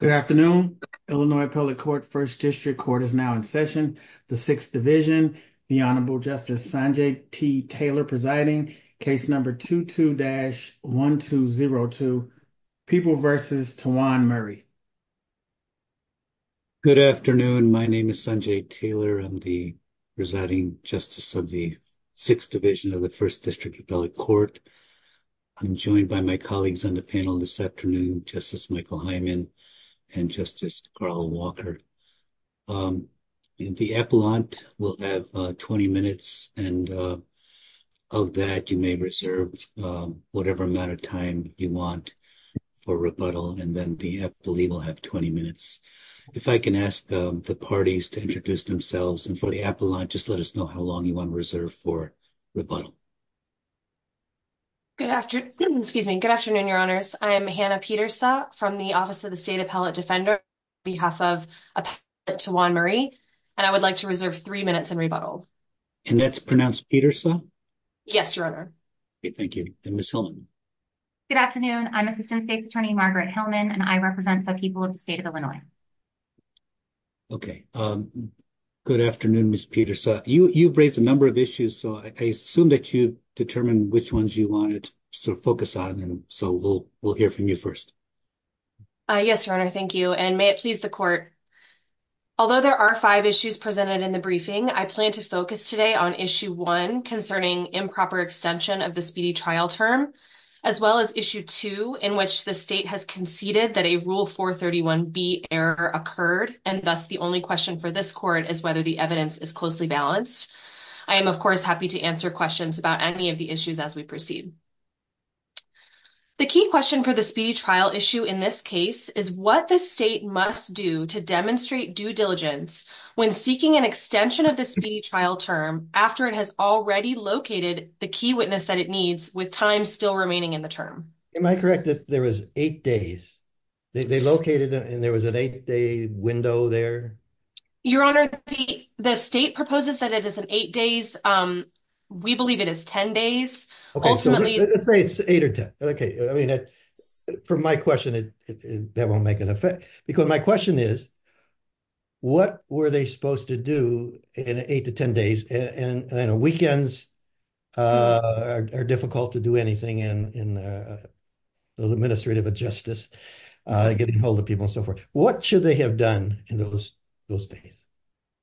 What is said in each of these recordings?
Good afternoon, Illinois appellate court. 1st district court is now in session. The 6th division, the honorable justice Sanjay T. Taylor presiding case number 22-1202 people versus Tawan Murray. Good afternoon. My name is Sanjay Taylor. I'm the. Residing justice of the 6th division of the 1st district appellate court. I'm joined by my colleagues on the panel this afternoon. Justice Michael Hyman and justice Carl Walker. The appellant will have 20 minutes and. Of that you may reserve whatever amount of time you want for rebuttal and then the legal have 20 minutes. If I can ask the parties to introduce themselves and for the appellant, just let us know how long you want to reserve for. Rebuttal good afternoon. Excuse me. Good afternoon. Your honors. I'm Hannah Peter. So, from the office of the state appellate defender. Be half of Tawan Murray, and I would like to reserve 3 minutes and rebuttal. And that's pronounced Peter. So, yes, your honor. Thank you. And this. Good afternoon. I'm assistant state's attorney, Margaret Hillman and I represent the people of the state of Illinois. Okay, good afternoon. Miss Peter. So you, you've raised a number of issues. So I assume that you determine which ones you wanted to focus on. And so we'll, we'll hear from you 1st. Yes, your honor. Thank you. And may it please the court. Although there are 5 issues presented in the briefing, I plan to focus today on issue 1 concerning improper extension of the speedy trial term. As well, as issue 2, in which the state has conceded that a rule for 31 B error occurred and thus the only question for this court is whether the evidence is closely balanced. I am, of course, happy to answer questions about any of the issues as we proceed. The key question for the speedy trial issue in this case is what the state must do to demonstrate due diligence when seeking an extension of this trial term after it has already located the key witness that it needs with time remaining in the term. Am I correct that there was 8 days they located and there was an 8 day window there? Your honor, the state proposes that it is an 8 days. We believe it is 10 days. Ultimately, it's 8 or 10. Okay. I mean, from my question, that won't make an effect because my question is. What were they supposed to do in 8 to 10 days and weekends are difficult to do anything in the administrative of justice, getting hold of people and so forth. What should they have done in those those days?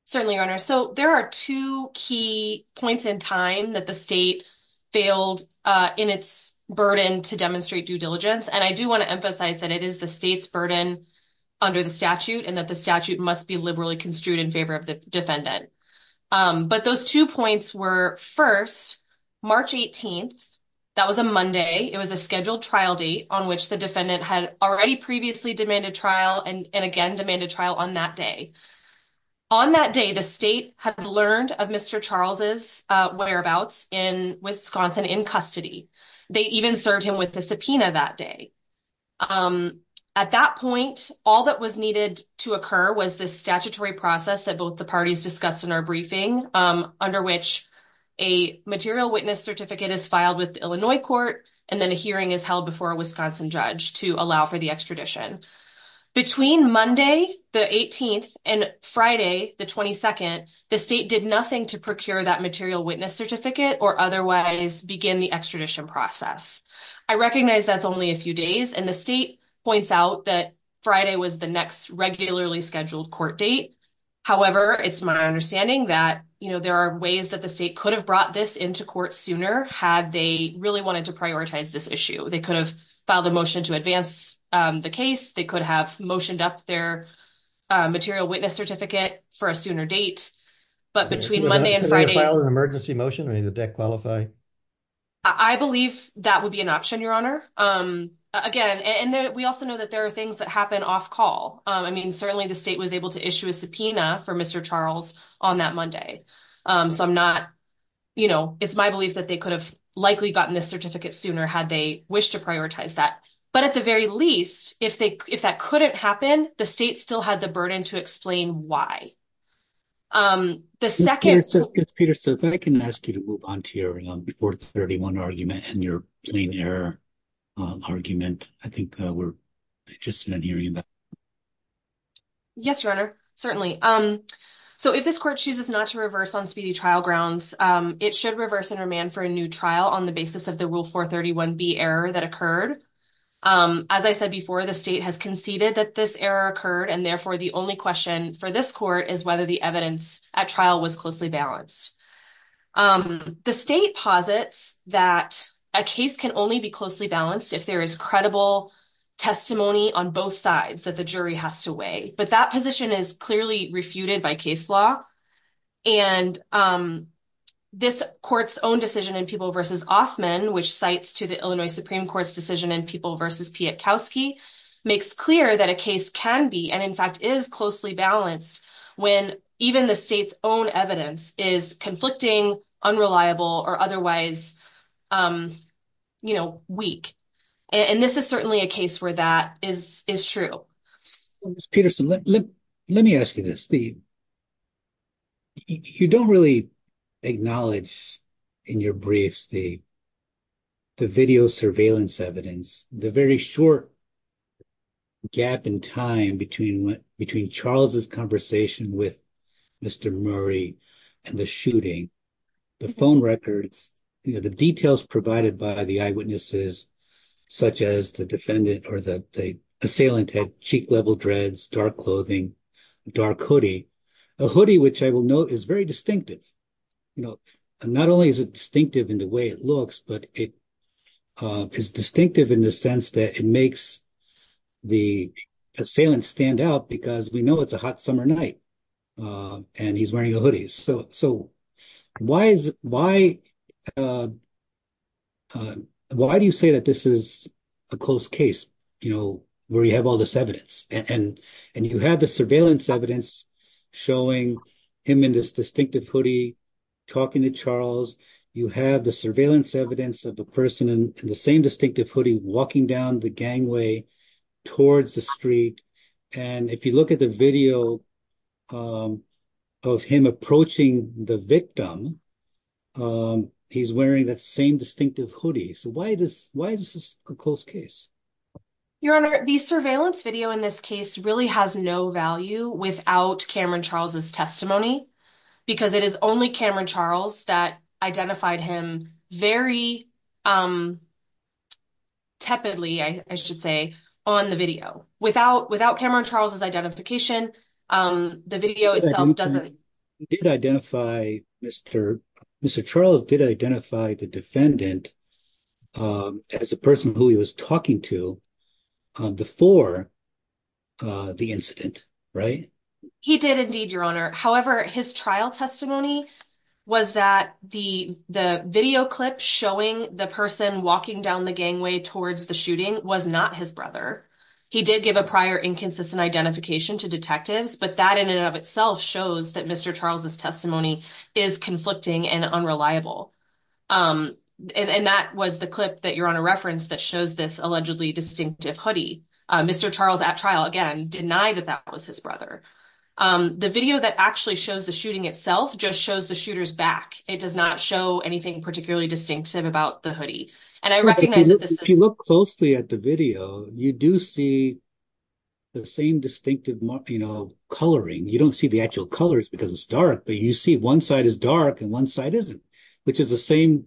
Certainly, your honor, so there are 2 key points in time that the state failed in its burden to demonstrate due diligence. And I do want to emphasize that it is the state's burden. Under the statute, and that the statute must be liberally construed in favor of the defendant, but those 2 points were 1st. March 18th, that was a Monday. It was a scheduled trial date on which the defendant had already previously demanded trial and again, demanded trial on that day. On that day, the state had learned of Mr. Charles's whereabouts in Wisconsin in custody. They even served him with the subpoena that day. At that point, all that was needed to occur was this statutory process that both the parties discussed in our briefing under which a material witness certificate is filed with Illinois court and then a hearing is held before Wisconsin judge to allow for the extradition. Between Monday, the 18th and Friday, the 22nd, the state did nothing to procure that material witness certificate or otherwise begin the extradition process. I recognize that's only a few days and the state points out that Friday was the next regularly scheduled court date. However, it's my understanding that there are ways that the state could have brought this into court sooner had they really wanted to prioritize this issue. They could have filed a motion to advance the case. They could have motioned up their material witness certificate for a sooner date. But between Monday and Friday, emergency motion, the deck qualify. I believe that would be an option, your honor. Again, and we also know that there are things that happen off call. I mean, certainly the state was able to issue a subpoena for Mr. Charles on that Monday. So I'm not, you know, it's my belief that they could have likely gotten this certificate sooner had they wish to prioritize that. But at the very least, if that couldn't happen, the state still had the burden to explain why. The 2nd, Peter, so if I can ask you to move on to your 431 argument and your plain error. Argument, I think we're just hearing about. Yes, your honor. Certainly. So, if this court chooses not to reverse on speedy trial grounds, it should reverse and remand for a new trial on the basis of the rule for 31 be error that occurred. As I said before, the state has conceded that this error occurred and therefore the only question for this court is whether the evidence at trial was closely balanced. The state posits that a case can only be closely balanced if there is credible testimony on both sides that the jury has to weigh, but that position is clearly refuted by case law. And this court's own decision in people versus offman, which cites to the Illinois Supreme Court's decision and people versus makes clear that a case can be. And in fact, is closely balanced when even the state's own evidence is conflicting, unreliable or otherwise. You know, weak, and this is certainly a case where that is is true. Let me ask you this. You don't really acknowledge in your briefs, the. The video surveillance evidence, the very short. Gap in time between between Charles's conversation with Mr. Murray and the shooting. The phone records, the details provided by the eyewitnesses. Such as the defendant or the assailant had cheek level dreads, dark clothing. Dark hoodie, a hoodie, which I will note is very distinctive. You know, not only is it distinctive in the way it looks, but it is distinctive in the sense that it makes. The assailant stand out because we know it's a hot summer night and he's wearing a hoodie. So so why is why. Uh, why do you say that this is. A close case, you know, where you have all this evidence and and you have the surveillance evidence. Showing him in this distinctive hoodie. Talking to Charles, you have the surveillance evidence of a person in the same distinctive hoodie walking down the gangway. Towards the street, and if you look at the video. Of him approaching the victim. He's wearing that same distinctive hoodie. So why this? Why is this a close case? Your honor, the surveillance video in this case really has no value without Cameron Charles's testimony. Because it is only Cameron Charles that identified him very. Tepidly, I should say on the video without without Cameron Charles's identification, the video itself doesn't. Did identify Mr. Mr. Charles did identify the defendant. As a person who he was talking to before. The incident, right? He did indeed. Your honor. However, his trial testimony. Was that the the video clip showing the person walking down the gangway towards the shooting was not his brother. He did give a prior inconsistent identification to detectives, but that in and of itself shows that Mr. Charles's testimony is conflicting and unreliable. And that was the clip that you're on a reference that shows this allegedly distinctive hoodie. Mr. Charles at trial again, deny that that was his brother. The video that actually shows the shooting itself just shows the shooters back. It does not show anything particularly distinctive about the hoodie. And I recognize that if you look closely at the video, you do see. The same distinctive coloring, you don't see the actual colors because it's dark, but you see 1 side is dark and 1 side isn't, which is the same.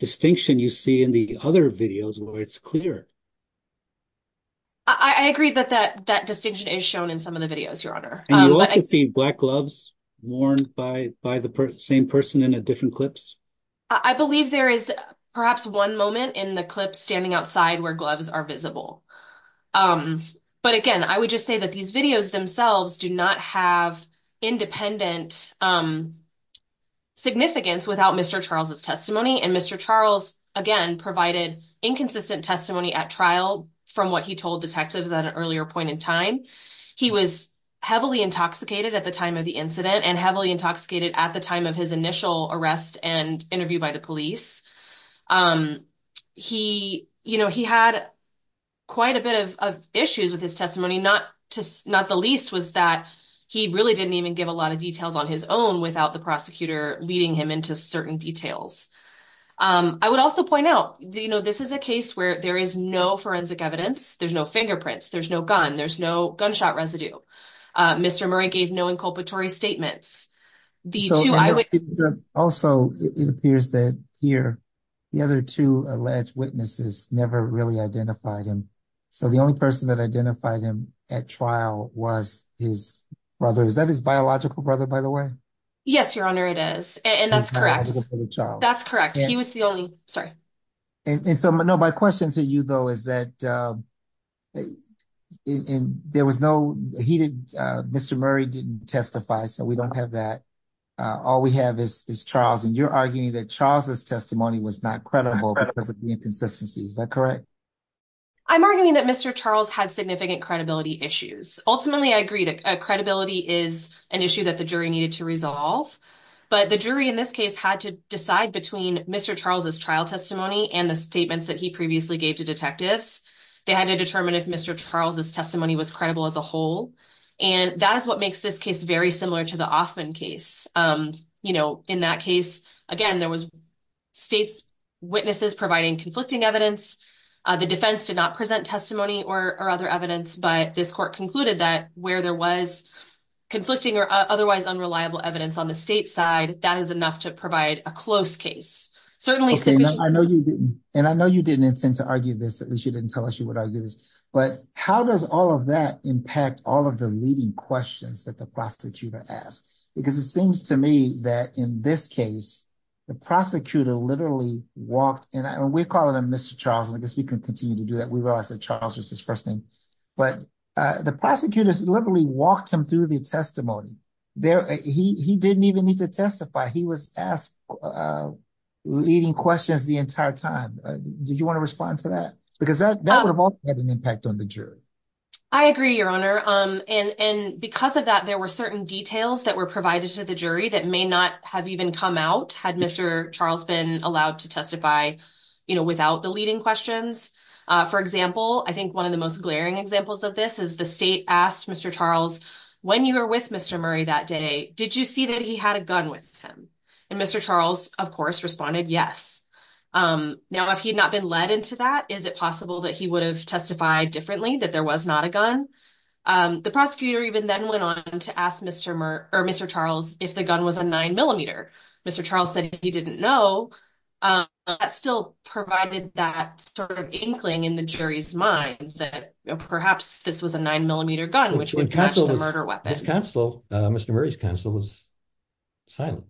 Distinction you see in the other videos where it's clear. I agree that that that distinction is shown in some of the videos. Your honor. Black gloves worn by by the same person in a different clips. I believe there is perhaps 1 moment in the clip standing outside where gloves are visible. But again, I would just say that these videos themselves do not have independent. Significance without Mr. Charles's testimony and Mr. Charles again provided inconsistent testimony at trial from what he told detectives at an earlier point in time. He was heavily intoxicated at the time of the incident and heavily intoxicated at the time of his initial arrest and interview by the police. He, you know, he had. Quite a bit of issues with his testimony, not just not the least was that he really didn't even give a lot of details on his own without the prosecutor leading him into certain details. I would also point out, you know, this is a case where there is no forensic evidence. There's no fingerprints. There's no gun. There's no gunshot residue. Mr. Murray gave no inculpatory statements. The 2 I would also, it appears that here. The other 2 alleged witnesses never really identified him. So, the only person that identified him at trial was his brother. Is that his biological brother? By the way? Yes, your honor it is and that's correct. That's correct. He was the only sorry. And so, no, my question to you, though, is that. And there was no, he didn't Mr. Murray didn't testify. So we don't have that. All we have is Charles and you're arguing that Charles's testimony was not credible because of the inconsistency. Is that correct? I'm arguing that Mr. Charles had significant credibility issues. Ultimately. I agree that credibility is an issue that the jury needed to resolve. But the jury in this case had to decide between Mr. Charles's trial testimony and the statements that he previously gave to detectives. They had to determine if Mr. Charles's testimony was credible as a whole and that is what makes this case very similar to the often case in that case. Again, there was. States witnesses providing conflicting evidence. The defense did not present testimony or other evidence, but this court concluded that where there was. Conflicting or otherwise unreliable evidence on the state side that is enough to provide a close case. Certainly, I know you didn't and I know you didn't intend to argue this. At least you didn't tell us you would argue this. But how does all of that impact all of the leading questions that the prosecutor asked? Because it seems to me that in this case. The prosecutor literally walked and we call it a Mr. Charles, and I guess we can continue to do that. We realize that Charles was his 1st thing. But the prosecutors literally walked him through the testimony. There he didn't even need to testify. He was asked. Leading questions the entire time. Do you want to respond to that? Because that would have had an impact on the jury. I agree, your honor, and because of that, there were certain details that were provided to the jury that may not have even come out. Had Mr. Charles been allowed to testify without the leading questions. For example, I think 1 of the most glaring examples of this is the state asked Mr. Charles. When you were with Mr. Murray that day, did you see that he had a gun with him? And Mr. Charles, of course, responded yes. Now, if he had not been led into that, is it possible that he would have testified differently? That there was not a gun. The prosecutor even then went on to ask Mr. Charles if the gun was a 9mm. Mr. Charles said he didn't know. That still provided that sort of inkling in the jury's mind that perhaps this was a 9mm gun, which would catch the murder weapon. His counsel, Mr. Murray's counsel was silent.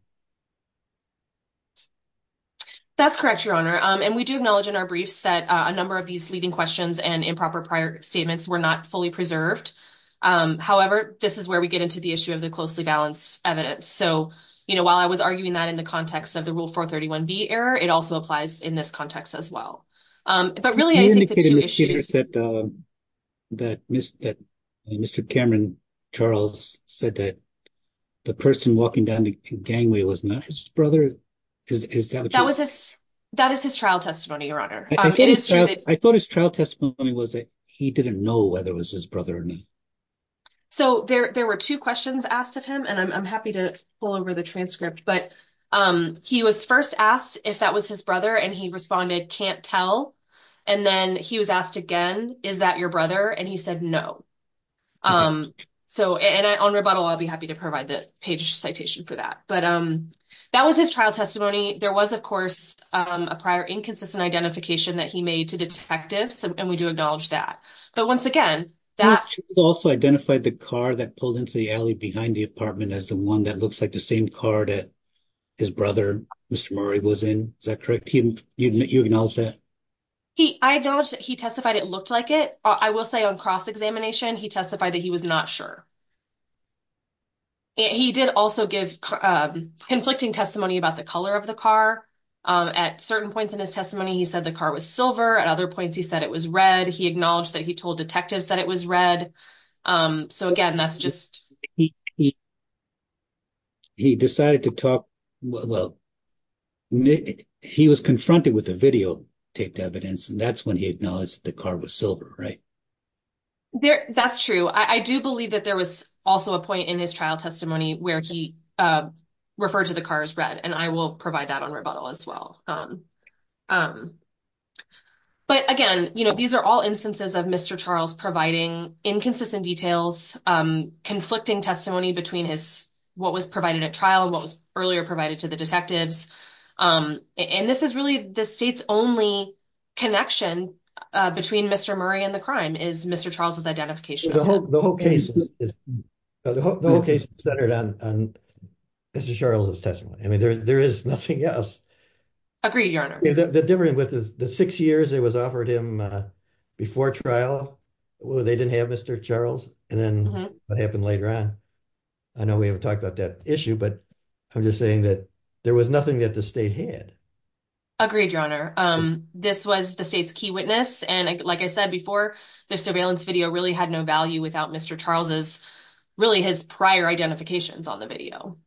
That's correct, your honor. And we do acknowledge in our briefs that a number of these leading questions and improper prior statements were not fully preserved. However, this is where we get into the issue of the closely balanced evidence. So, you know, while I was arguing that in the context of the Rule 431B error, it also applies in this context as well. But really, I think the two issues that Mr. Cameron Charles said that the person walking down the gangway was not his brother. That is his trial testimony, your honor. I thought his trial testimony was that he didn't know whether it was his brother or not. So there were two questions asked of him, and I'm happy to pull over the transcript. But he was first asked if that was his brother, and he responded, can't tell. And then he was asked again, is that your brother? And he said, no. So and on rebuttal, I'll be happy to provide the page citation for that. But that was his trial testimony. There was, of course, a prior inconsistent identification that he made to detectives, and we do acknowledge that. But once again, that- Mr. Charles also identified the car that pulled into the alley behind the apartment as the one that looks like the same car that his brother, Mr. Murray, was in. Is that correct? You acknowledge that? I acknowledge that he testified it looked like it. I will say on cross-examination, he testified that he was not sure. He did also give conflicting testimony about the color of the car. At certain points in his testimony, he said the car was silver. At other points, he said it was red. He acknowledged that he told detectives that it was red. So again, that's just- He decided to talk- well, he was confronted with the videotaped evidence, and that's when he acknowledged the car was silver, right? That's true. I do believe that there was also a point in his trial testimony where he referred to the car as red, and I will provide that on rebuttal as well. But again, these are all instances of Mr. Charles providing inconsistent details, conflicting testimony between what was provided at trial and what was earlier provided to the detectives. And this is really the state's only connection between Mr. Murray and the crime is Mr. Charles' identification. The whole case is centered on Mr. Charles' testimony. I mean, there is nothing else. Agreed, Your Honor. The difference with the six years it was offered him before trial, they didn't have Mr. Charles, and then what happened later on. I know we haven't talked about that issue, but I'm just saying that there was nothing that the state had. Agreed, Your Honor. This was the state's key witness. And like I said before, the surveillance video really had no value without Mr. Charles' prior identifications on the video.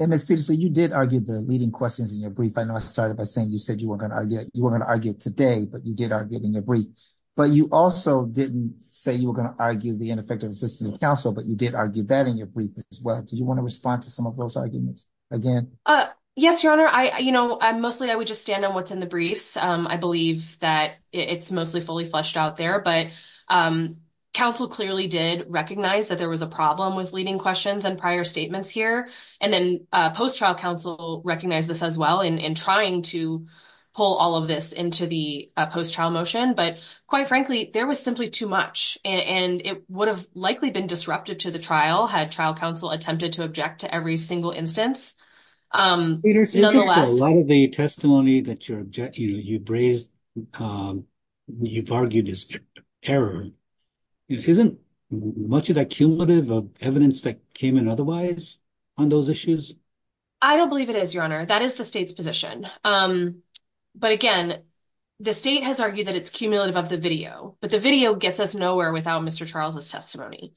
And Ms. Peterson, you did argue the leading questions in your brief. I know I started by saying you said you were going to argue it today, but you did argue it in your brief. But you also didn't say you were going to argue the ineffective assistance of counsel, but you did argue that in your brief as well. Do you want to respond to some of those arguments again? Yes, Your Honor. Mostly, I would just stand on what's in the briefs. I believe that it's mostly fully fleshed out there. But counsel clearly did recognize that there was a problem with leading questions and prior statements here. And then post-trial counsel recognized this as well in trying to pull all of this into the post-trial motion. But quite frankly, there was simply too much, and it would have likely been disrupted to the trial had trial counsel attempted to object to every single instance. Peterson, a lot of the testimony that you've raised, you've argued is error. Isn't much of that cumulative of evidence that came in otherwise on those issues? I don't believe it is, Your Honor. That is the state's position. But again, the state has argued that it's cumulative of the video. But the video gets us nowhere without Mr. Charles' testimony.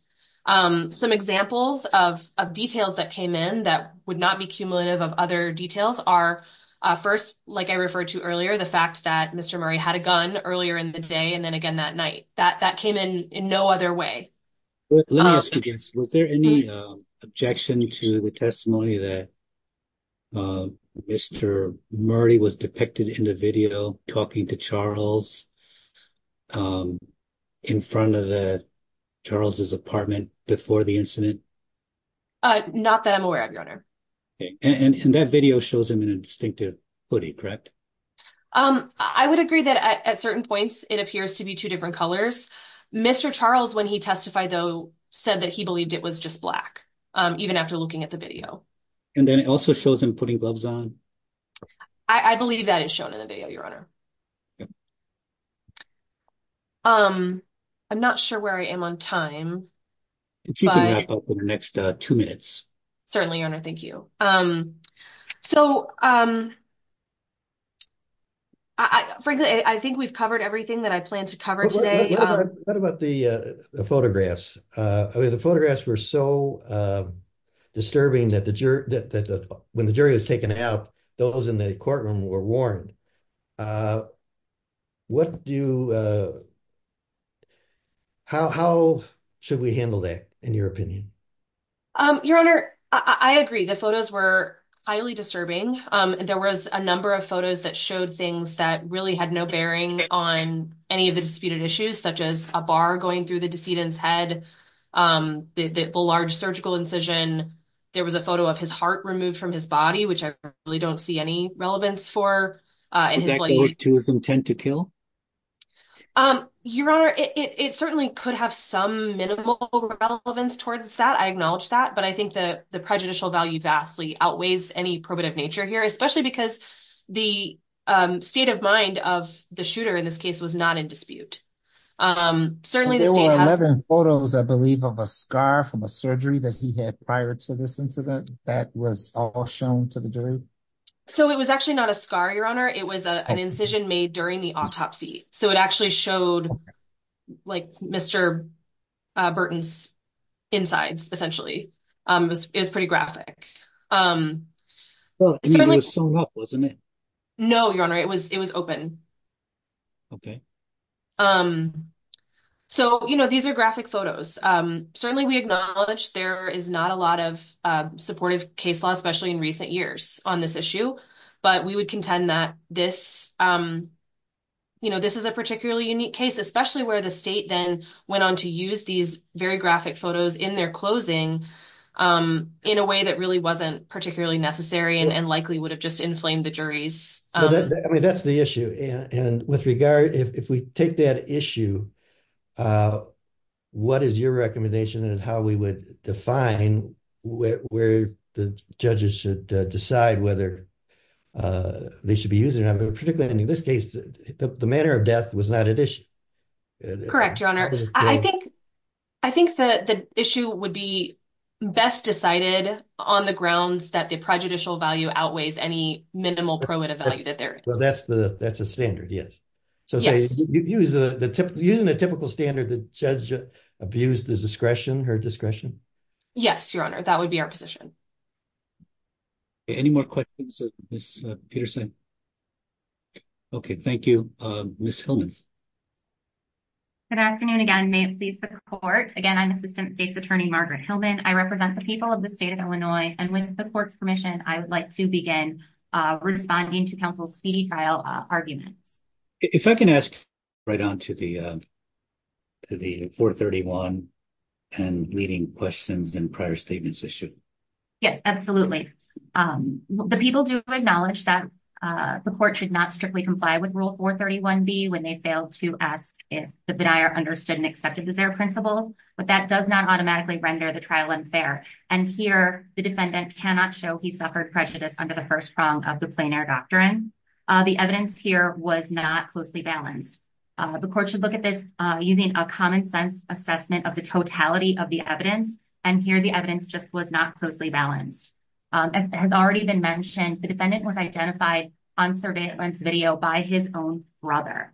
Some examples of details that came in that would not be cumulative of other details are, first, like I referred to earlier, the fact that Mr. Murray had a gun earlier in the day and then again that night. That came in in no other way. Let me ask you this. Was there any objection to the testimony that Mr. Murray was depicted in the video talking to Charles in front of Charles' apartment before the incident? Not that I'm aware of, Your Honor. And that video shows him in a distinctive hoodie, correct? I would agree that at certain points it appears to be two different colors. Mr. Charles, when he testified, though, said that he believed it was just black, even after looking at the video. And then it also shows him putting gloves on? I believe that is shown in the video, Your Honor. I'm not sure where I am on time. If you can wrap up in the next two minutes. Certainly, Your Honor, thank you. So, frankly, I think we've covered everything that I planned to cover today. What about the photographs? The photographs were so disturbing that when the jury was taken out, those in the courtroom were warned. How should we handle that, in your opinion? Your Honor, I agree. The photos were highly disturbing. There was a number of photos that showed things that really had no bearing on any of the disputed issues, such as a bar going through the decedent's head, the large surgical incision. There was a photo of his heart removed from his body, which I really don't see any relevance for. Did that go to his intent to kill? Your Honor, it certainly could have some minimal relevance towards that. I acknowledge that. But I think the prejudicial value vastly outweighs any probative nature here, especially because the state of mind of the shooter in this case was not in dispute. Certainly, the state had— There were 11 photos, I believe, of a scar from a surgery that he had prior to this incident that was all shown to the jury? It was actually not a scar, Your Honor. It was an incision made during the autopsy. So it actually showed Mr. Burton's insides, essentially. It was pretty graphic. It was sewn up, wasn't it? No, Your Honor. It was open. Okay. These are graphic photos. Certainly, we acknowledge there is not a lot of supportive case law, especially in recent years on this issue. But we would contend that this is a particularly unique case, especially where the state then went on to use these very graphic photos in their closing in a way that really wasn't particularly necessary and likely would have just inflamed the juries. I mean, that's the issue. And with regard, if we take that issue, what is your recommendation and how we would define where the judges should decide whether they should be using it? I mean, particularly in this case, the manner of death was not at issue. Correct, Your Honor. I think the issue would be best decided on the grounds that the prejudicial value outweighs any minimal prohibitive value that there is. That's a standard, yes. Using the typical standard, the judge abused the discretion, her discretion? Yes, Your Honor. That would be our position. Any more questions, Ms. Peterson? Okay, thank you. Ms. Hillman. Good afternoon again. May it please the court. Again, I'm Assistant State's Attorney Margaret Hillman. I represent the people of the state of Illinois. And with the court's permission, I would like to begin responding to counsel's speedy trial arguments. If I can ask right on to the 431 and leading questions and prior statements issued. Yes, absolutely. The people do acknowledge that the court should not strictly comply with Rule 431B when they fail to ask if the denier understood and accepted the zero principles, but that does not automatically render the trial unfair. And here, the defendant cannot show he suffered prejudice under the first prong of the plein air doctrine. The evidence here was not closely balanced. The court should look at this using a common sense assessment of the totality of the evidence. And here, the evidence just was not closely balanced. As has already been mentioned, the defendant was identified on surveillance video by his own brother.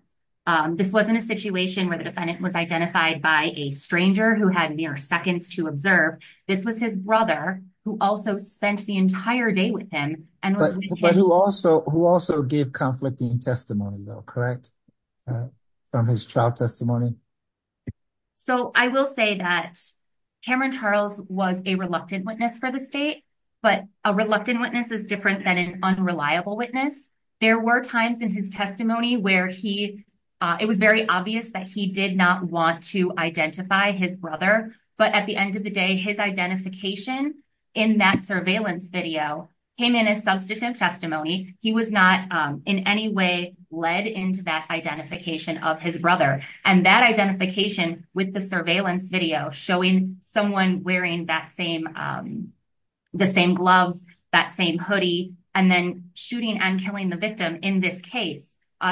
This wasn't a situation where the defendant was identified by a stranger who had mere seconds to observe. This was his brother who also spent the entire day with him. But who also gave conflicting testimony though, correct? From his trial testimony. So I will say that Cameron Charles was a reluctant witness for the state, but a reluctant witness is different than an unreliable witness. There were times in his testimony where he, it was very obvious that he did not want to identify his brother, but at the end of the day, his identification in that surveillance video came in as substantive testimony. He was not in any way led into that identification of his brother. And that identification with the surveillance video, showing someone wearing the same gloves, that same hoodie, and then shooting and killing the victim in this case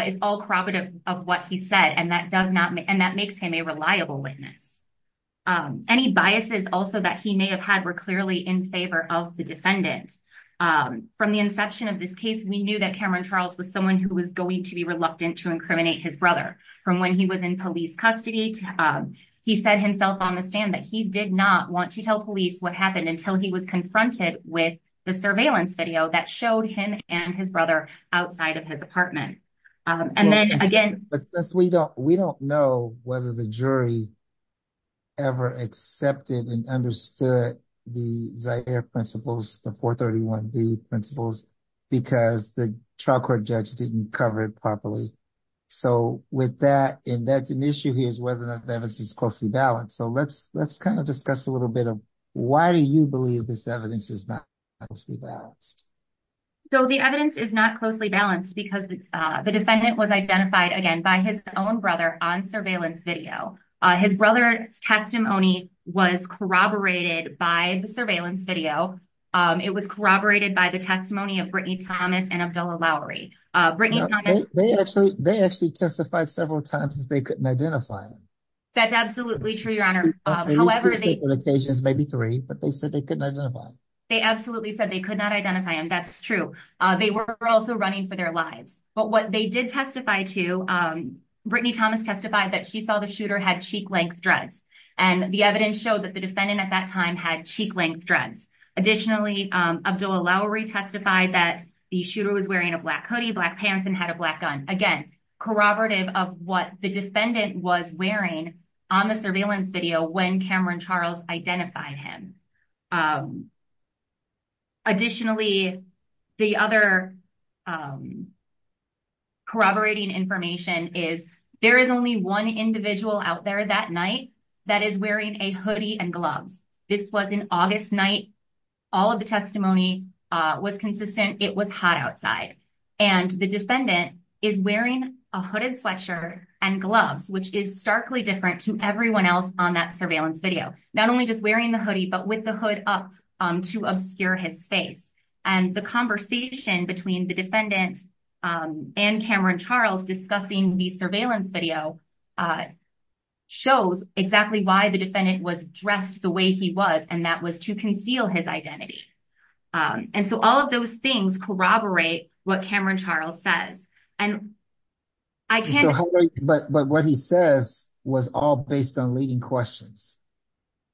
is all corroborative of what he said. And that makes him a reliable witness. Any biases also that he may have had were clearly in favor of the defendant. From the inception of this case, we knew that Cameron Charles was someone who was going to be reluctant to incriminate his brother. From when he was in police custody, he said himself on the stand that he did not want to tell police what happened until he was confronted with the surveillance video that showed him and his brother outside of his apartment. And then again- We don't know whether the jury ever accepted and understood the Zaire principles, the 431B principles, because the trial court judge didn't cover it properly. So with that, and that's an issue here is whether or not the evidence is closely balanced. So let's kind of discuss a little bit of why do you believe this evidence is not closely balanced? So the evidence is not closely balanced because the defendant was identified again by his own brother on surveillance video. His brother's testimony was corroborated by the surveillance video. It was corroborated by the testimony of Brittany Thomas and Abdullah Lowry. They actually testified several times that they couldn't identify him. That's absolutely true, your honor. They used to speak on occasions, maybe three, but they said they couldn't identify him. They absolutely said they could not identify him. That's true. They were also running for their lives. But what they did testify to, Brittany Thomas testified that she saw the shooter had cheek length dreads. And the evidence showed that the defendant at that time had cheek length dreads. Additionally, Abdullah Lowry testified that the shooter was wearing a black hoodie, black pants, and had a black gun. Again, corroborative of what the defendant was wearing on the surveillance video when Cameron Charles identified him. Additionally, the other corroborating information is there is only one individual out there that night that is wearing a hoodie and gloves. This was an August night. All of the testimony was consistent. It was hot outside. And the defendant is wearing a hooded sweatshirt and gloves, which is starkly different to everyone else on that surveillance video. Not only just wearing the hoodie, but with the gloves on. With the hood up to obscure his face. And the conversation between the defendant and Cameron Charles discussing the surveillance video shows exactly why the defendant was dressed the way he was, and that was to conceal his identity. And so all of those things corroborate what Cameron Charles says. But what he says was all based on leading questions.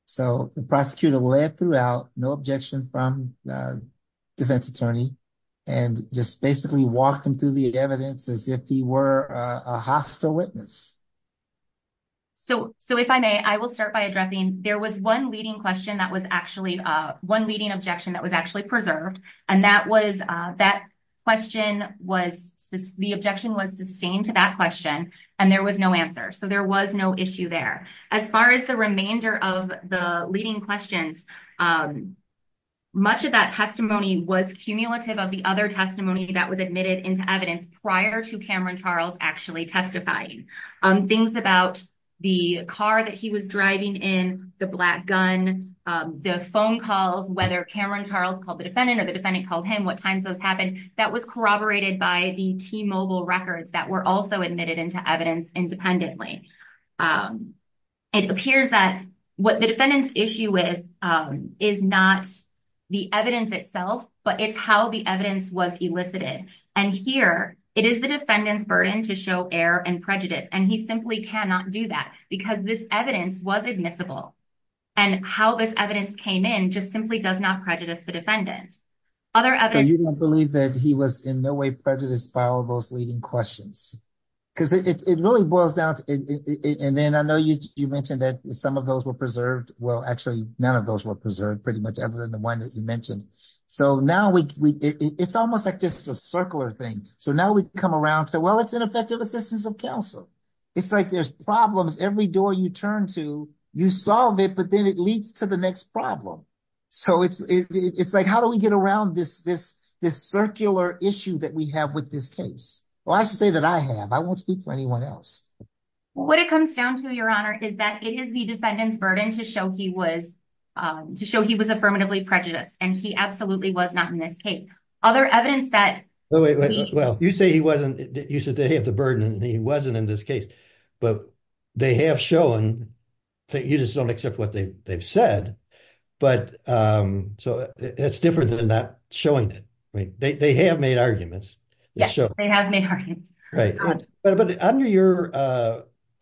So the prosecutor led throughout, no objection from the defense attorney, and just basically walked him through the evidence as if he were a hostile witness. So if I may, I will start by addressing, there was one leading question that was actually, one leading objection that was actually preserved. And that was, that question was, the objection was sustained to that question, and there was no answer. So there was no issue there. As far as the remainder of the leading questions, much of that testimony was cumulative of the other testimony that was admitted into evidence prior to Cameron Charles actually testifying. Things about the car that he was driving in, the black gun, the phone calls, whether Cameron Charles called the defendant or the defendant called him, what times those happened, that was corroborated by the T-Mobile records that were also admitted into evidence independently. It appears that what the defendant's issue with is not the evidence itself, but it's how the evidence was elicited. And here, it is the defendant's burden to show error and prejudice, and he simply cannot do that because this evidence was admissible. And how this evidence came in just simply does not prejudice the defendant. So you don't believe that he was in no way prejudiced by all those leading questions? Because it really boils down to, and then I know you mentioned that some of those were preserved. Well, actually, none of those were preserved pretty much other than the one that you mentioned. So now it's almost like just a circular thing. So now we come around to, well, it's ineffective assistance of counsel. It's like there's problems every door you turn to, you solve it, but then it leads to the next problem. So it's like, how do we get around this circular issue that we have with this case? Well, I should say that I have, I won't speak for anyone else. What it comes down to, Your Honor, is that it is the defendant's burden to show he was affirmatively prejudiced, and he absolutely was not in this case. Other evidence that- Well, you say he wasn't, you said they have the burden and he wasn't in this case, but they have shown that you just don't accept what they've said. But so it's different than not showing it. I mean, they have made arguments. Yes, they have made arguments. Right, but under your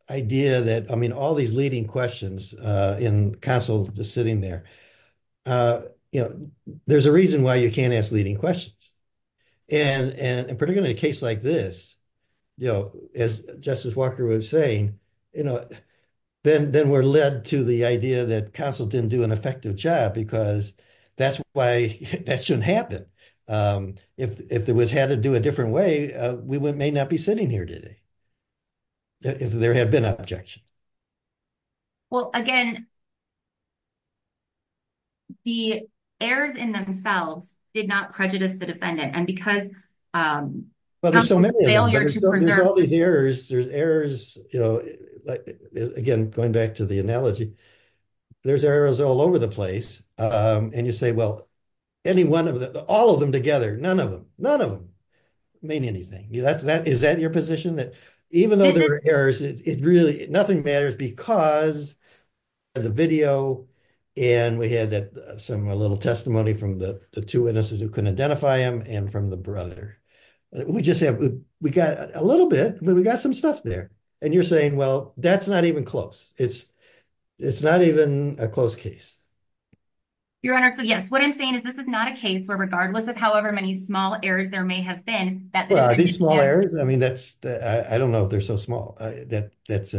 idea that, I mean, all these leading questions in counsel just sitting there, there's a reason why you can't ask leading questions. And particularly in a case like this, as Justice Walker was saying, then we're led to the idea that counsel didn't do an effective job because that's why that shouldn't happen. If it was had to do a different way, we may not be sitting here today if there had been objections. Well, again, the errors in themselves did not prejudice the defendant. And because- Well, there's so many of them, there's all these errors. There's errors, you know, again, going back to the analogy, there's errors all over the place. And you say, well, any one of them, all of them together, none of them, none of them mean anything. Is that your position that even though there are errors, nothing matters because there's a video and we had some little testimony from the two witnesses who couldn't identify him and from the brother. We just have, we got a little bit, but we got some stuff there. And you're saying, well, that's not even close. It's not even a close case. Your Honor, so yes, what I'm saying is this is not a case where regardless of however many small errors there may have been that- Well, are these small errors? I mean, that's, I don't know if they're so small. That's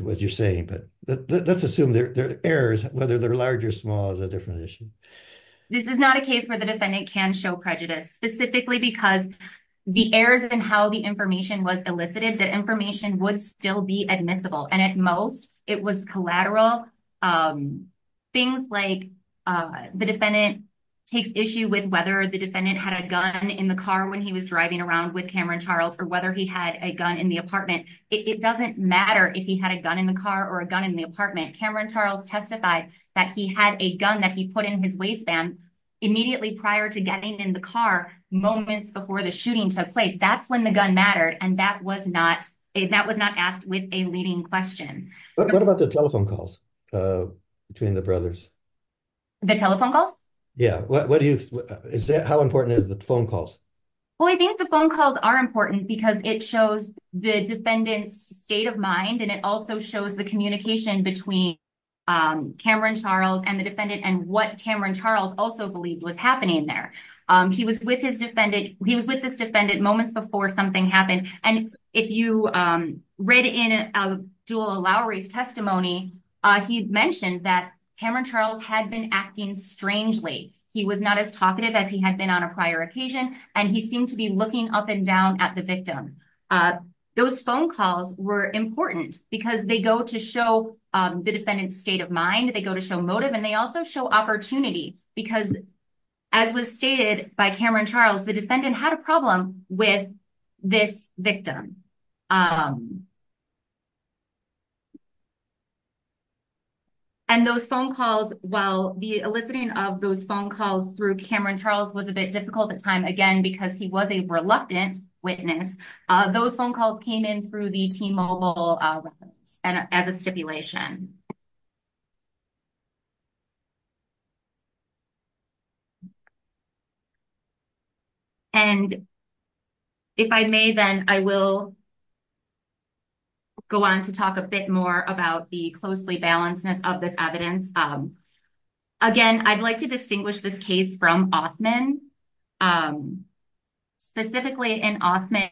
what you're saying, but let's assume they're errors, whether they're large or small is a different issue. This is not a case where the defendant can show prejudice specifically because the errors and how the information was elicited, the information would still be admissible. And at most it was collateral. Things like the defendant takes issue with whether the defendant had a gun in the car when he was driving around with Cameron Charles or whether he had a gun in the apartment. It doesn't matter if he had a gun in the car or a gun in the apartment. Cameron Charles testified that he had a gun that he put in his waistband immediately prior to getting in the car moments before the shooting took place. That's when the gun mattered. And that was not asked with a leading question. What about the telephone calls between the brothers? The telephone calls? Yeah. How important is the phone calls? Well, I think the phone calls are important because it shows the defendant's state of mind. And it also shows the communication between Cameron Charles and the defendant and what Cameron Charles also believed was happening there. He was with this defendant moments before something happened. And if you read in a dual allow race testimony, he mentioned that Cameron Charles had been acting strangely. He was not as talkative as he had been on a prior occasion. And he seemed to be looking up and down at the victim. Those phone calls were important because they go to show the defendant's state of mind. They go to show motive and they also show opportunity because as was stated by Cameron Charles, the defendant had a problem with this victim. And those phone calls, well, the eliciting of those phone calls through Cameron Charles was a bit difficult at time, again, because he was a reluctant witness. Those phone calls came in through the T-Mobile as a stipulation. And if I may, then I will go on to talk a bit more about the closely balancedness of this evidence. Again, I'd like to distinguish this case from Offman. Specifically in Offman,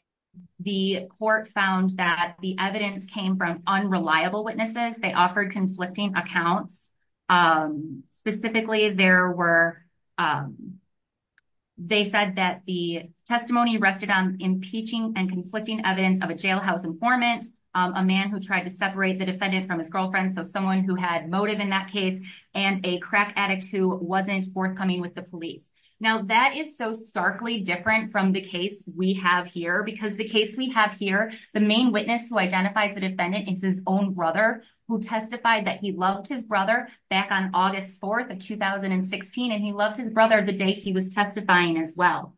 the court found that the evidence came from unreliable witnesses. They offered conflicting accounts. Specifically, there were, they said that the testimony rested on impeaching and conflicting evidence of a jailhouse informant, a man who tried to separate the defendant from his girlfriend, so someone who had motive in that case and a crack addict who wasn't forthcoming with the police. Now that is so starkly different from the case we have here because the case we have here, the main witness who identified the defendant is his own brother who testified that he loved his brother back on August 4th of 2016. And he loved his brother the day he was testifying as well.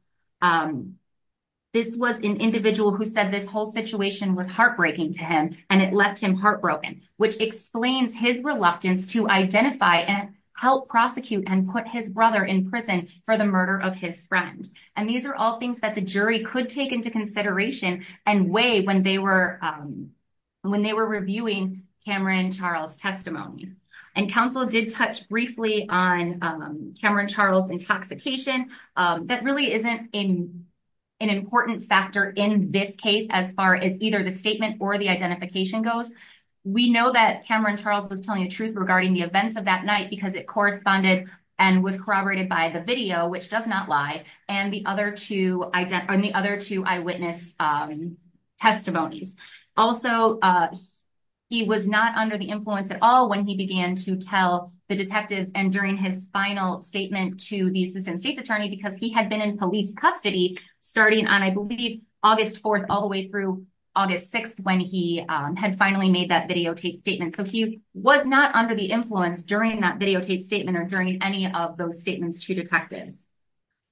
This was an individual who said this whole situation was heartbreaking to him and it left him heartbroken, which explains his reluctance to identify and help prosecute and put his brother in prison for the murder of his friend. And these are all things that the jury could take into consideration and weigh when they were reviewing Cameron Charles' testimony. And counsel did touch briefly on Cameron Charles' intoxication. That really isn't an important factor in this case as far as either the statement or the identification goes. We know that Cameron Charles was telling the truth regarding the events of that night because it corresponded and was corroborated by the video, which does not lie, and the other two eyewitness testimonies. Also, he was not under the influence at all when he began to tell the detectives and during his final statement to the assistant state's attorney because he had been in police custody starting on, I believe, August 4th all the way through August 6th when he had finally made that videotape statement. So he was not under the influence during that videotape statement or during any of those statements to detectives.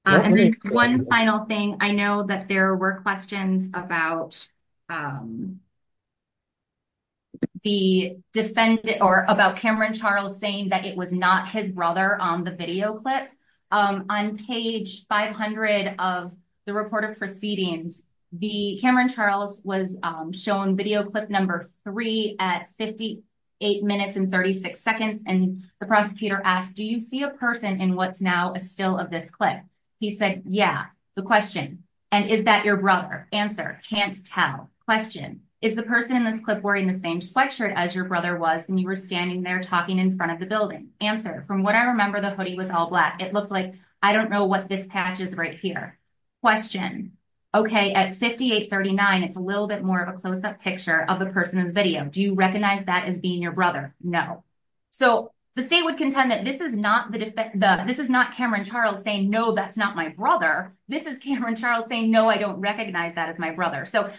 And one final thing, I know that there were questions about Cameron Charles saying that it was not his brother on the video clip. On page 500 of the report of proceedings, Cameron Charles was shown video clip number three at 58 minutes and 36 seconds, and the prosecutor asked, do you see a person in what's now a still of this clip? He said, yeah, the question. And is that your brother? Answer, can't tell. Question, is the person in this clip wearing the same sweatshirt as your brother was when you were standing there talking in front of the building? Answer, from what I remember, the hoodie was all black. It looked like, I don't know what this patch is right here. Question, okay, at 58.39, it's a little bit more of a closeup picture of the person in the video. Do you recognize that as being your brother? No. So the state would contend that this is not Cameron Charles saying, no, that's not my brother. This is Cameron Charles saying, no, I don't recognize that as my brother. So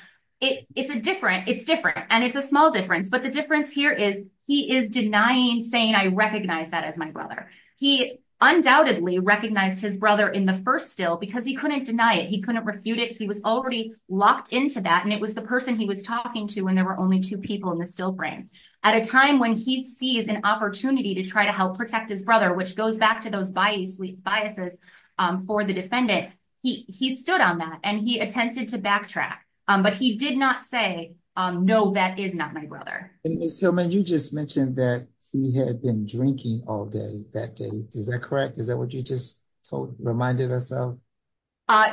it's different, and it's a small difference, but the difference here is he is denying saying, I recognize that as my brother. He undoubtedly recognized his brother in the first still because he couldn't deny it. He couldn't refute it. He was already locked into that, and it was the person he was talking to when there were only two people in the still frame. At a time when he sees an opportunity to try to help protect his brother, which goes back to those biases for the defendant, he stood on that, and he attempted to backtrack, but he did not say, no, that is not my brother. And Ms. Hillman, you just mentioned that he had been drinking all day that day. Is that correct? Is that what you just reminded us of?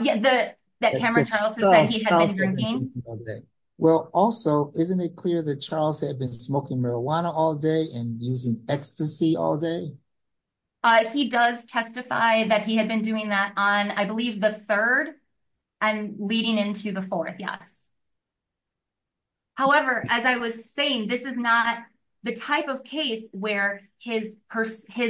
Yeah, that Cameron Charles has said he had been drinking. Well, also, isn't it clear that Charles had been smoking marijuana all day and using ecstasy all day? He does testify that he had been doing that on, I believe, the third and leading into the fourth, yes. However, as I was saying, this is not the type of case where his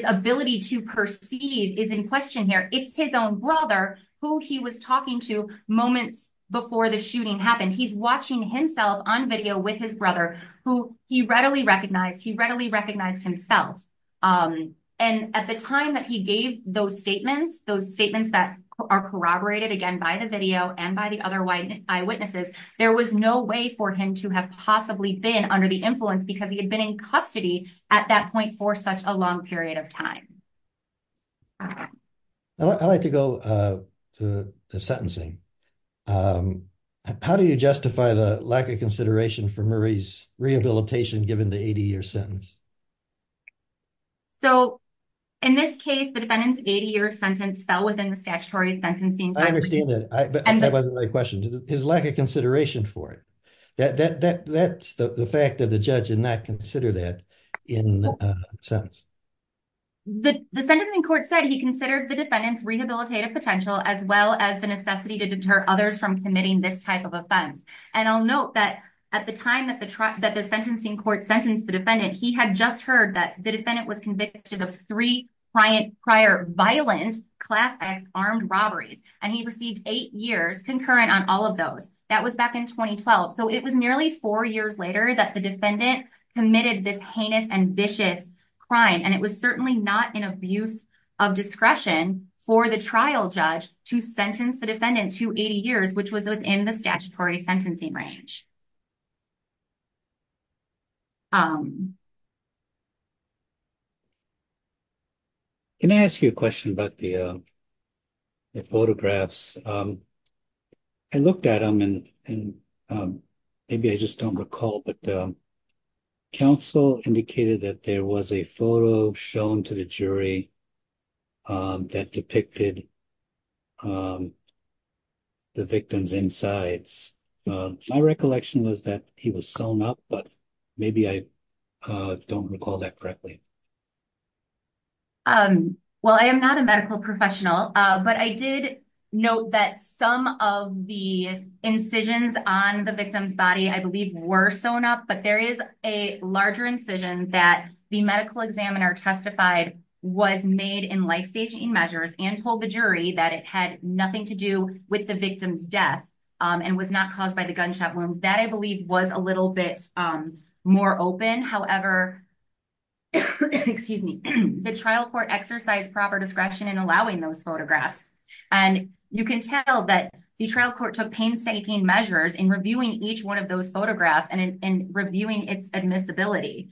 ability to perceive is in question here. It's his own brother who he was talking to moments before the shooting happened. He's watching himself on video with his brother who he readily recognized. He readily recognized himself. And at the time that he gave those statements, those statements that are corroborated, again, by the video and by the other eyewitnesses, there was no way for him to have possibly been under the influence because he had been in custody at that point for such a long period of time. I'd like to go to the sentencing. How do you justify the lack of consideration for Murray's rehabilitation given the 80-year sentence? So, in this case, the defendant's 80-year sentence fell within the statutory sentencing- I understand that, but that wasn't my question. His lack of consideration for it. That's the fact that the judge did not consider that in a sense. The sentencing court said he considered the defendant's rehabilitative potential as well as the necessity to deter others from committing this type of offense. And I'll note that at the time that the sentencing court sentenced the defendant, he had just heard that the defendant was convicted of three prior violent Class X armed robberies, and he received eight years concurrent on all of those. That was back in 2012. So, it was nearly four years later that the defendant committed this heinous and vicious crime. And it was certainly not an abuse of discretion for the trial judge to sentence the defendant to 80 years, which was within the statutory sentencing range. Can I ask you a question about the photographs? I looked at them and maybe I just don't recall, but counsel indicated that there was a photo shown to the jury that depicted the victim's insides. My recollection was that he was sewn up, but maybe I don't recall that correctly. Well, I am not a medical professional, but I did note that some of the incisions on the victim's body, I believe, were sewn up, but there is a larger incision that the medical examiner testified was made in life-saving measures and told the jury that it had nothing to do with the victim's death and was not caused by the gunshot wounds. That, I believe, was a little bit more open. However, the trial court exercised proper discretion in allowing those photographs. And you can tell that the trial court took painstaking measures in reviewing each one of those photographs and in reviewing its admissibility.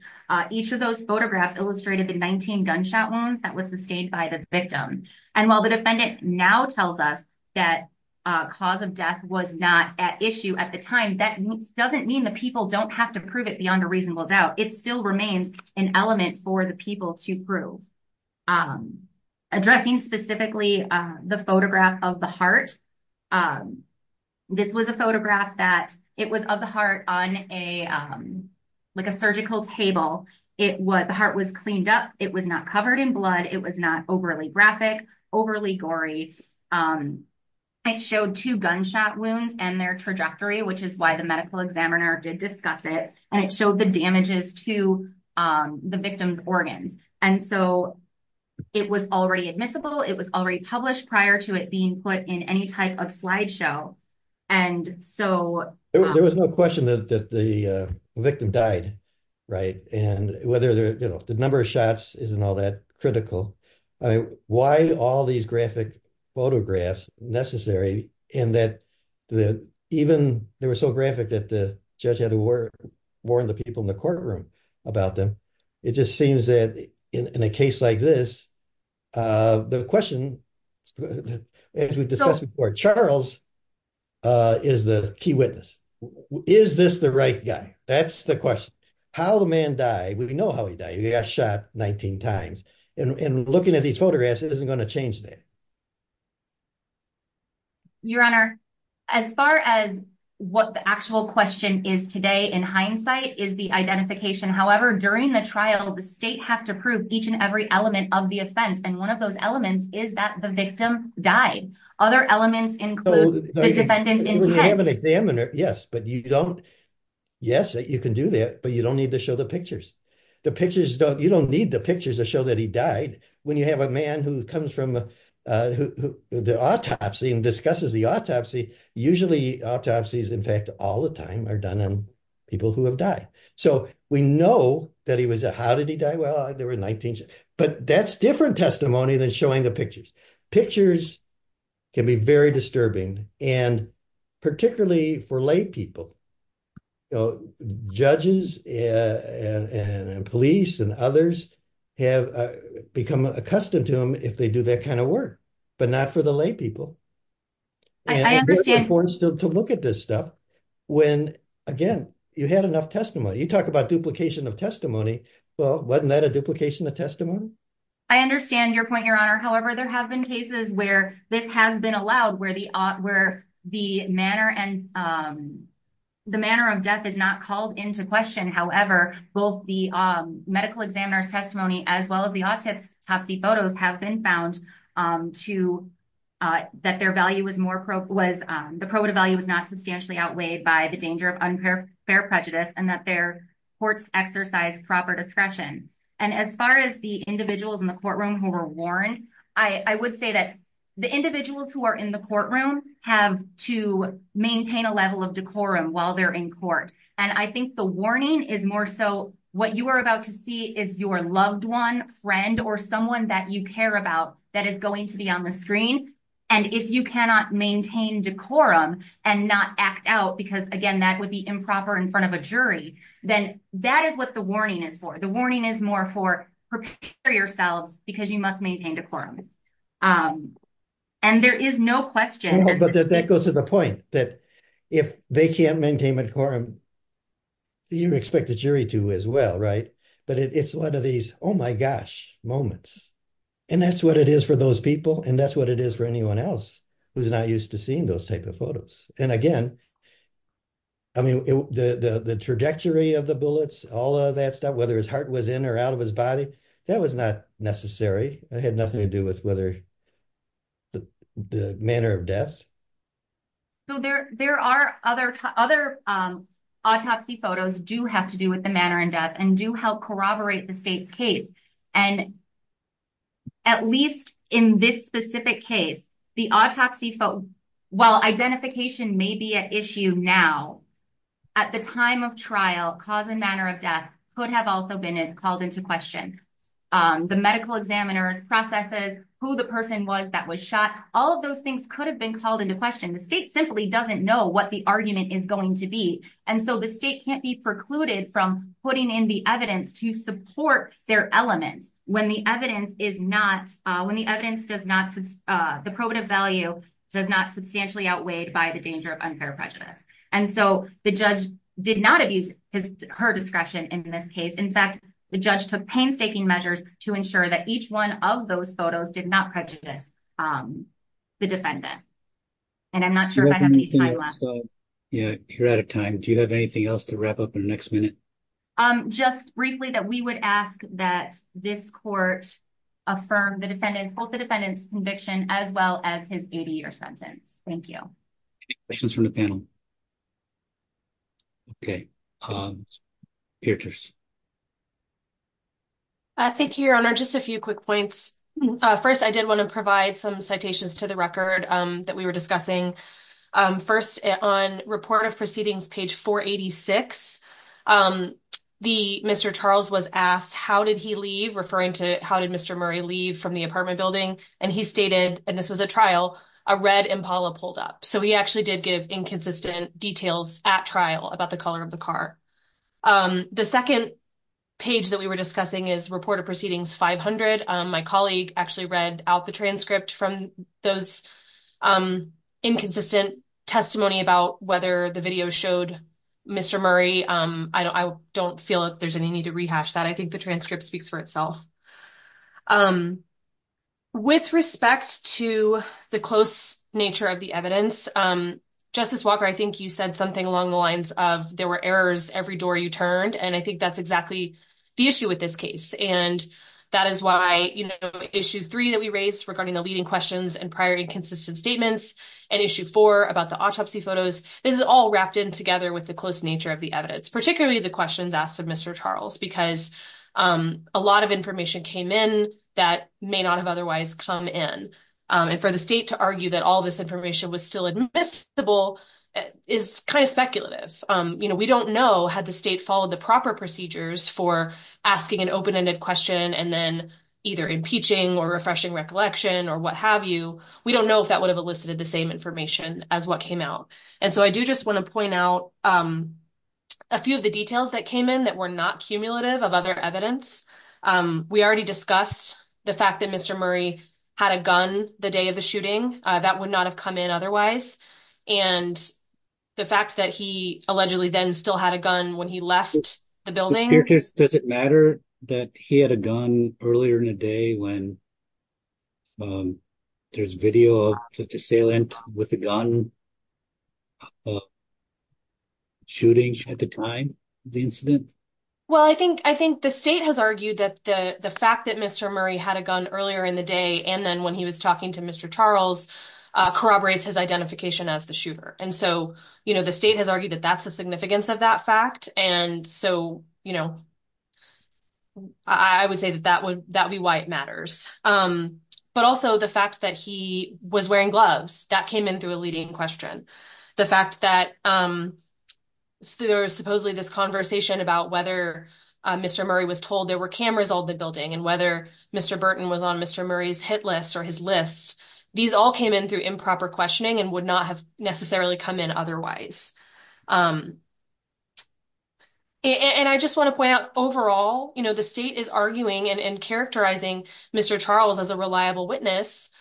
Each of those photographs illustrated the 19 gunshot wounds that was sustained by the victim. And while the defendant now tells us that cause of death was not at issue at the time, that doesn't mean the people don't have to prove it beyond a reasonable doubt. It still remains an element for the people to prove. Addressing specifically the photograph of the heart, this was a photograph that it was of the heart on like a surgical table. The heart was cleaned up. It was not covered in blood. It was not overly graphic, overly gory. It showed two gunshot wounds and their trajectory, which is why the medical examiner did discuss it. And it showed the damages to the victim's organs. And so it was already admissible. It was already published prior to it being put in any type of slideshow. And so- There was no question that the victim died, right? And whether the number of shots isn't all that critical. Why all these graphic photographs necessary and that even they were so graphic that the judge had to warn the people in the courtroom about them. It just seems that in a case like this, the question, as we discussed before, Charles is the key witness. Is this the right guy? That's the question. How the man died, we know how he died. He got shot 19 times. And looking at these photographs, it isn't gonna change that. Your Honor, as far as what the actual question is today, in hindsight, is the identification. However, during the trial, the state have to prove each and every element of the offense. And one of those elements is that the victim died. Other elements include the defendants- We have an examiner, yes, but you don't. Yes, you can do that, but you don't need to show the pictures. You don't need the pictures to show that he died. When you have a man who comes from the autopsy and discusses the autopsy, usually autopsies, in fact, all the time, are done on people who have died. So we know that he was- How did he die? Well, there were 19 shots. But that's different testimony than showing the pictures. Pictures can be very disturbing. And particularly for lay people, judges and police and others have become accustomed to them if they do that kind of work, but not for the lay people. And they're forced to look at this stuff when, again, you had enough testimony. You talk about duplication of testimony. Well, wasn't that a duplication of testimony? I understand your point, Your Honor. However, there have been cases where this has been allowed, where the manner of death is not called into question. However, both the medical examiner's testimony as well as the autopsy photos have been found to- that their value was more pro- was the probative value was not substantially outweighed by the danger of unfair prejudice and that their courts exercise proper discretion. And as far as the individuals in the courtroom who were warned, I would say that the individuals who are in the courtroom have to maintain a level of decorum while they're in court. And I think the warning is more so what you are about to see is your loved one, friend, or someone that you care about that is going to be on the screen. And if you cannot maintain decorum and not act out, because, again, that would be improper in front of a jury, then that is what the warning is for. The warning is more for prepare yourselves because you must maintain decorum. And there is no question- But that goes to the point that if they can't maintain decorum, you expect the jury to as well, right? But it's one of these, oh my gosh, moments. And that's what it is for those people. And that's what it is for anyone else who's not used to seeing those type of photos. And again, I mean, the trajectory of the bullets, all of that stuff, whether his heart was in or out of his body, that was not necessary. It had nothing to do with whether the manner of death. So there are other autopsy photos do have to do with the manner in death and do help corroborate the state's case. And at least in this specific case, the autopsy photo, while identification may be an issue now, at the time of trial, cause and manner of death could have also been called into question. The medical examiners, processes, who the person was that was shot, all of those things could have been called into question. The state simply doesn't know what the argument is going to be. And so the state can't be precluded from putting in the evidence to support their elements when the evidence is not, when the evidence does not, the probative value does not substantially outweighed by the danger of unfair prejudice. And so the judge did not abuse her discretion in this case. In fact, the judge took painstaking measures to ensure that each one of those photos did not prejudice the defendant. And I'm not sure if I have any time left. So yeah, you're out of time. Do you have anything else to wrap up in the next minute? Um, just briefly that we would ask that this court affirm the defendant's, both the defendant's conviction as well as his 80 year sentence. Thank you. Questions from the panel. Okay. I think your honor, just a few quick points. First, I did want to provide some citations to the record that we were discussing. First on report of proceedings, page 486, the Mr. Charles was asked, how did he leave? Referring to how did Mr. Murray leave from the apartment building? And he stated, and this was a trial, a red Impala pulled up. So he actually did give inconsistent details at trial about the color of the car. The second page that we were discussing is report of proceedings 500. My colleague actually read out the transcript from those inconsistent testimony about whether the video showed Mr. Murray. I don't feel like there's any need to rehash that. I think the transcript speaks for itself. With respect to the close nature of the evidence, Justice Walker, I think you said something along the lines of there were errors every door you turned. And I think that's exactly the issue with this case. And that is why, you know, issue three that we raised regarding the leading questions and prior inconsistent statements and issue four about the autopsy photos. This is all wrapped in together with the close nature of the evidence, particularly the questions asked of Mr. Charles, because a lot of information came in that may not have otherwise come in. And for the state to argue that all this information was still admissible is kind of speculative. You know, we don't know had the state followed the proper procedures for asking an open-ended question and then either impeaching or refreshing recollection or what have you. We don't know if that would have elicited the same information as what came out. And so I do just want to point out a few of the details that came in that were not cumulative of other evidence. We already discussed the fact that Mr. Murray had a gun the day of the shooting that would not have come in otherwise. And the fact that he allegedly then still had a gun when he left the building. Does it matter that he had a gun earlier in the day when there's video of an assailant with a gun of shooting at the time of the incident? Well, I think the state has argued that the fact that Mr. Murray had a gun earlier in the day and then when he was talking to Mr. Charles, corroborates his identification as the shooter. And so, you know, the state has argued that that's the significance of that fact. And so, you know, I would say that that would be why it matters. But also the fact that he was wearing gloves, that came in through a leading question. The fact that there was supposedly this conversation about whether Mr. Murray was told there were cameras all the building and whether Mr. Burton was on Mr. Murray's hit list or his list. These all came in through improper questioning and would not have necessarily come in otherwise. And I just want to point out overall, you know, the state is arguing and characterizing Mr. Charles as a reliable witness,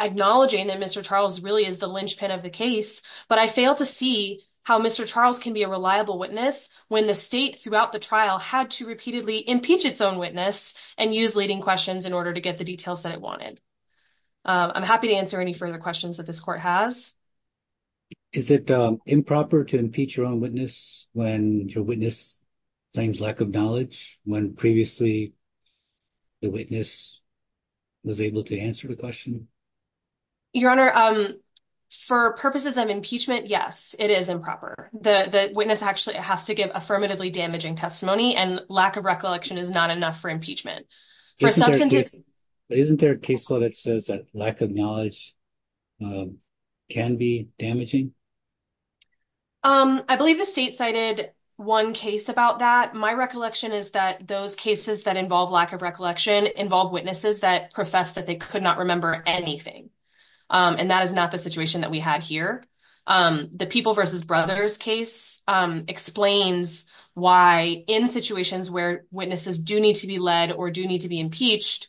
acknowledging that Mr. Charles really is the linchpin of the case. But I fail to see how Mr. Charles can be a reliable witness when the state throughout the trial had to repeatedly impeach its own witness and use leading questions in order to get the details that it wanted. I'm happy to answer any further questions that this court has. Is it improper to impeach your own witness when your witness claims lack of knowledge? When previously the witness was able to answer the question? Your Honor, for purposes of impeachment, yes, it is improper. The witness actually has to give affirmatively damaging testimony and lack of recollection is not enough for impeachment. Isn't there a case law that says that lack of knowledge can be damaging? I believe the state cited one case about that. My recollection is that those cases that involve lack of recollection involve witnesses that profess that they could not remember anything. And that is not the situation that we had here. The People v. Brothers case explains why in situations where witnesses do need to be led or do need to be impeached,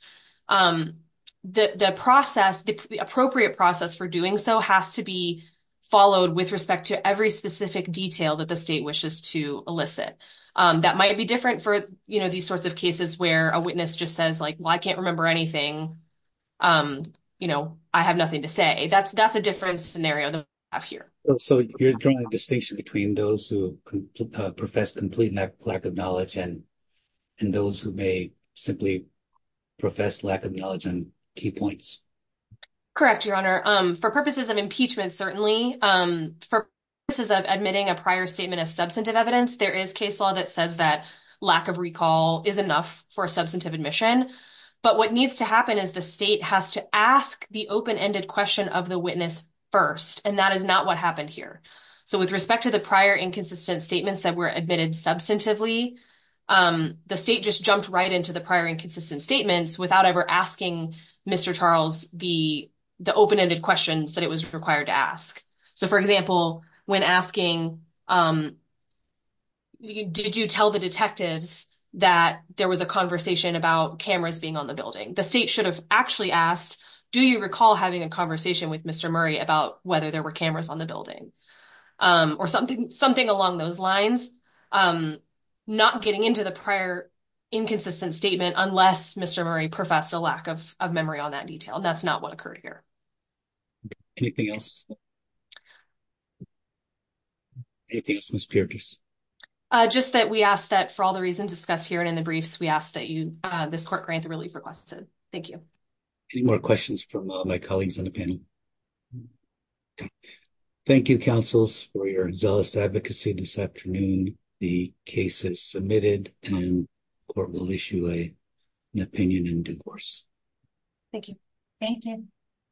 the appropriate process for doing so has to be followed with respect to every specific detail that the state wishes to elicit. That might be different for these sorts of cases where a witness just says, like, well, I can't remember anything. I have nothing to say. That's a different scenario than we have here. So you're drawing a distinction between those who profess complete lack of knowledge and those who may simply profess lack of knowledge and key points. Correct, Your Honor. For purposes of impeachment, certainly. For purposes of admitting a prior statement of substantive evidence, there is case law that says that lack of recall is enough for a substantive admission. But what needs to happen is the state has to ask the open-ended question of the witness first. And that is not what happened here. So with respect to the prior inconsistent statements that were admitted substantively, the state just jumped right into the prior inconsistent statements without ever asking Mr. Charles the open-ended questions that it was required to ask. So for example, when asking did you tell the detectives that there was a conversation about cameras being on the building, the state should have actually asked, do you recall having a conversation with Mr. Murray about whether there were cameras on the building or something along those lines, not getting into the prior inconsistent statement unless Mr. Murray professed a lack of memory on that detail. That's not what occurred here. Anything else? Anything else, Ms. Piertis? Just that we ask that for all the reasons discussed here and in the briefs, we ask that this court grant the relief requested. Thank you. Any more questions from my colleagues on the panel? Thank you, counsels, for your zealous advocacy this afternoon. The case is submitted and court will issue an opinion in due course. Thank you. Thank you.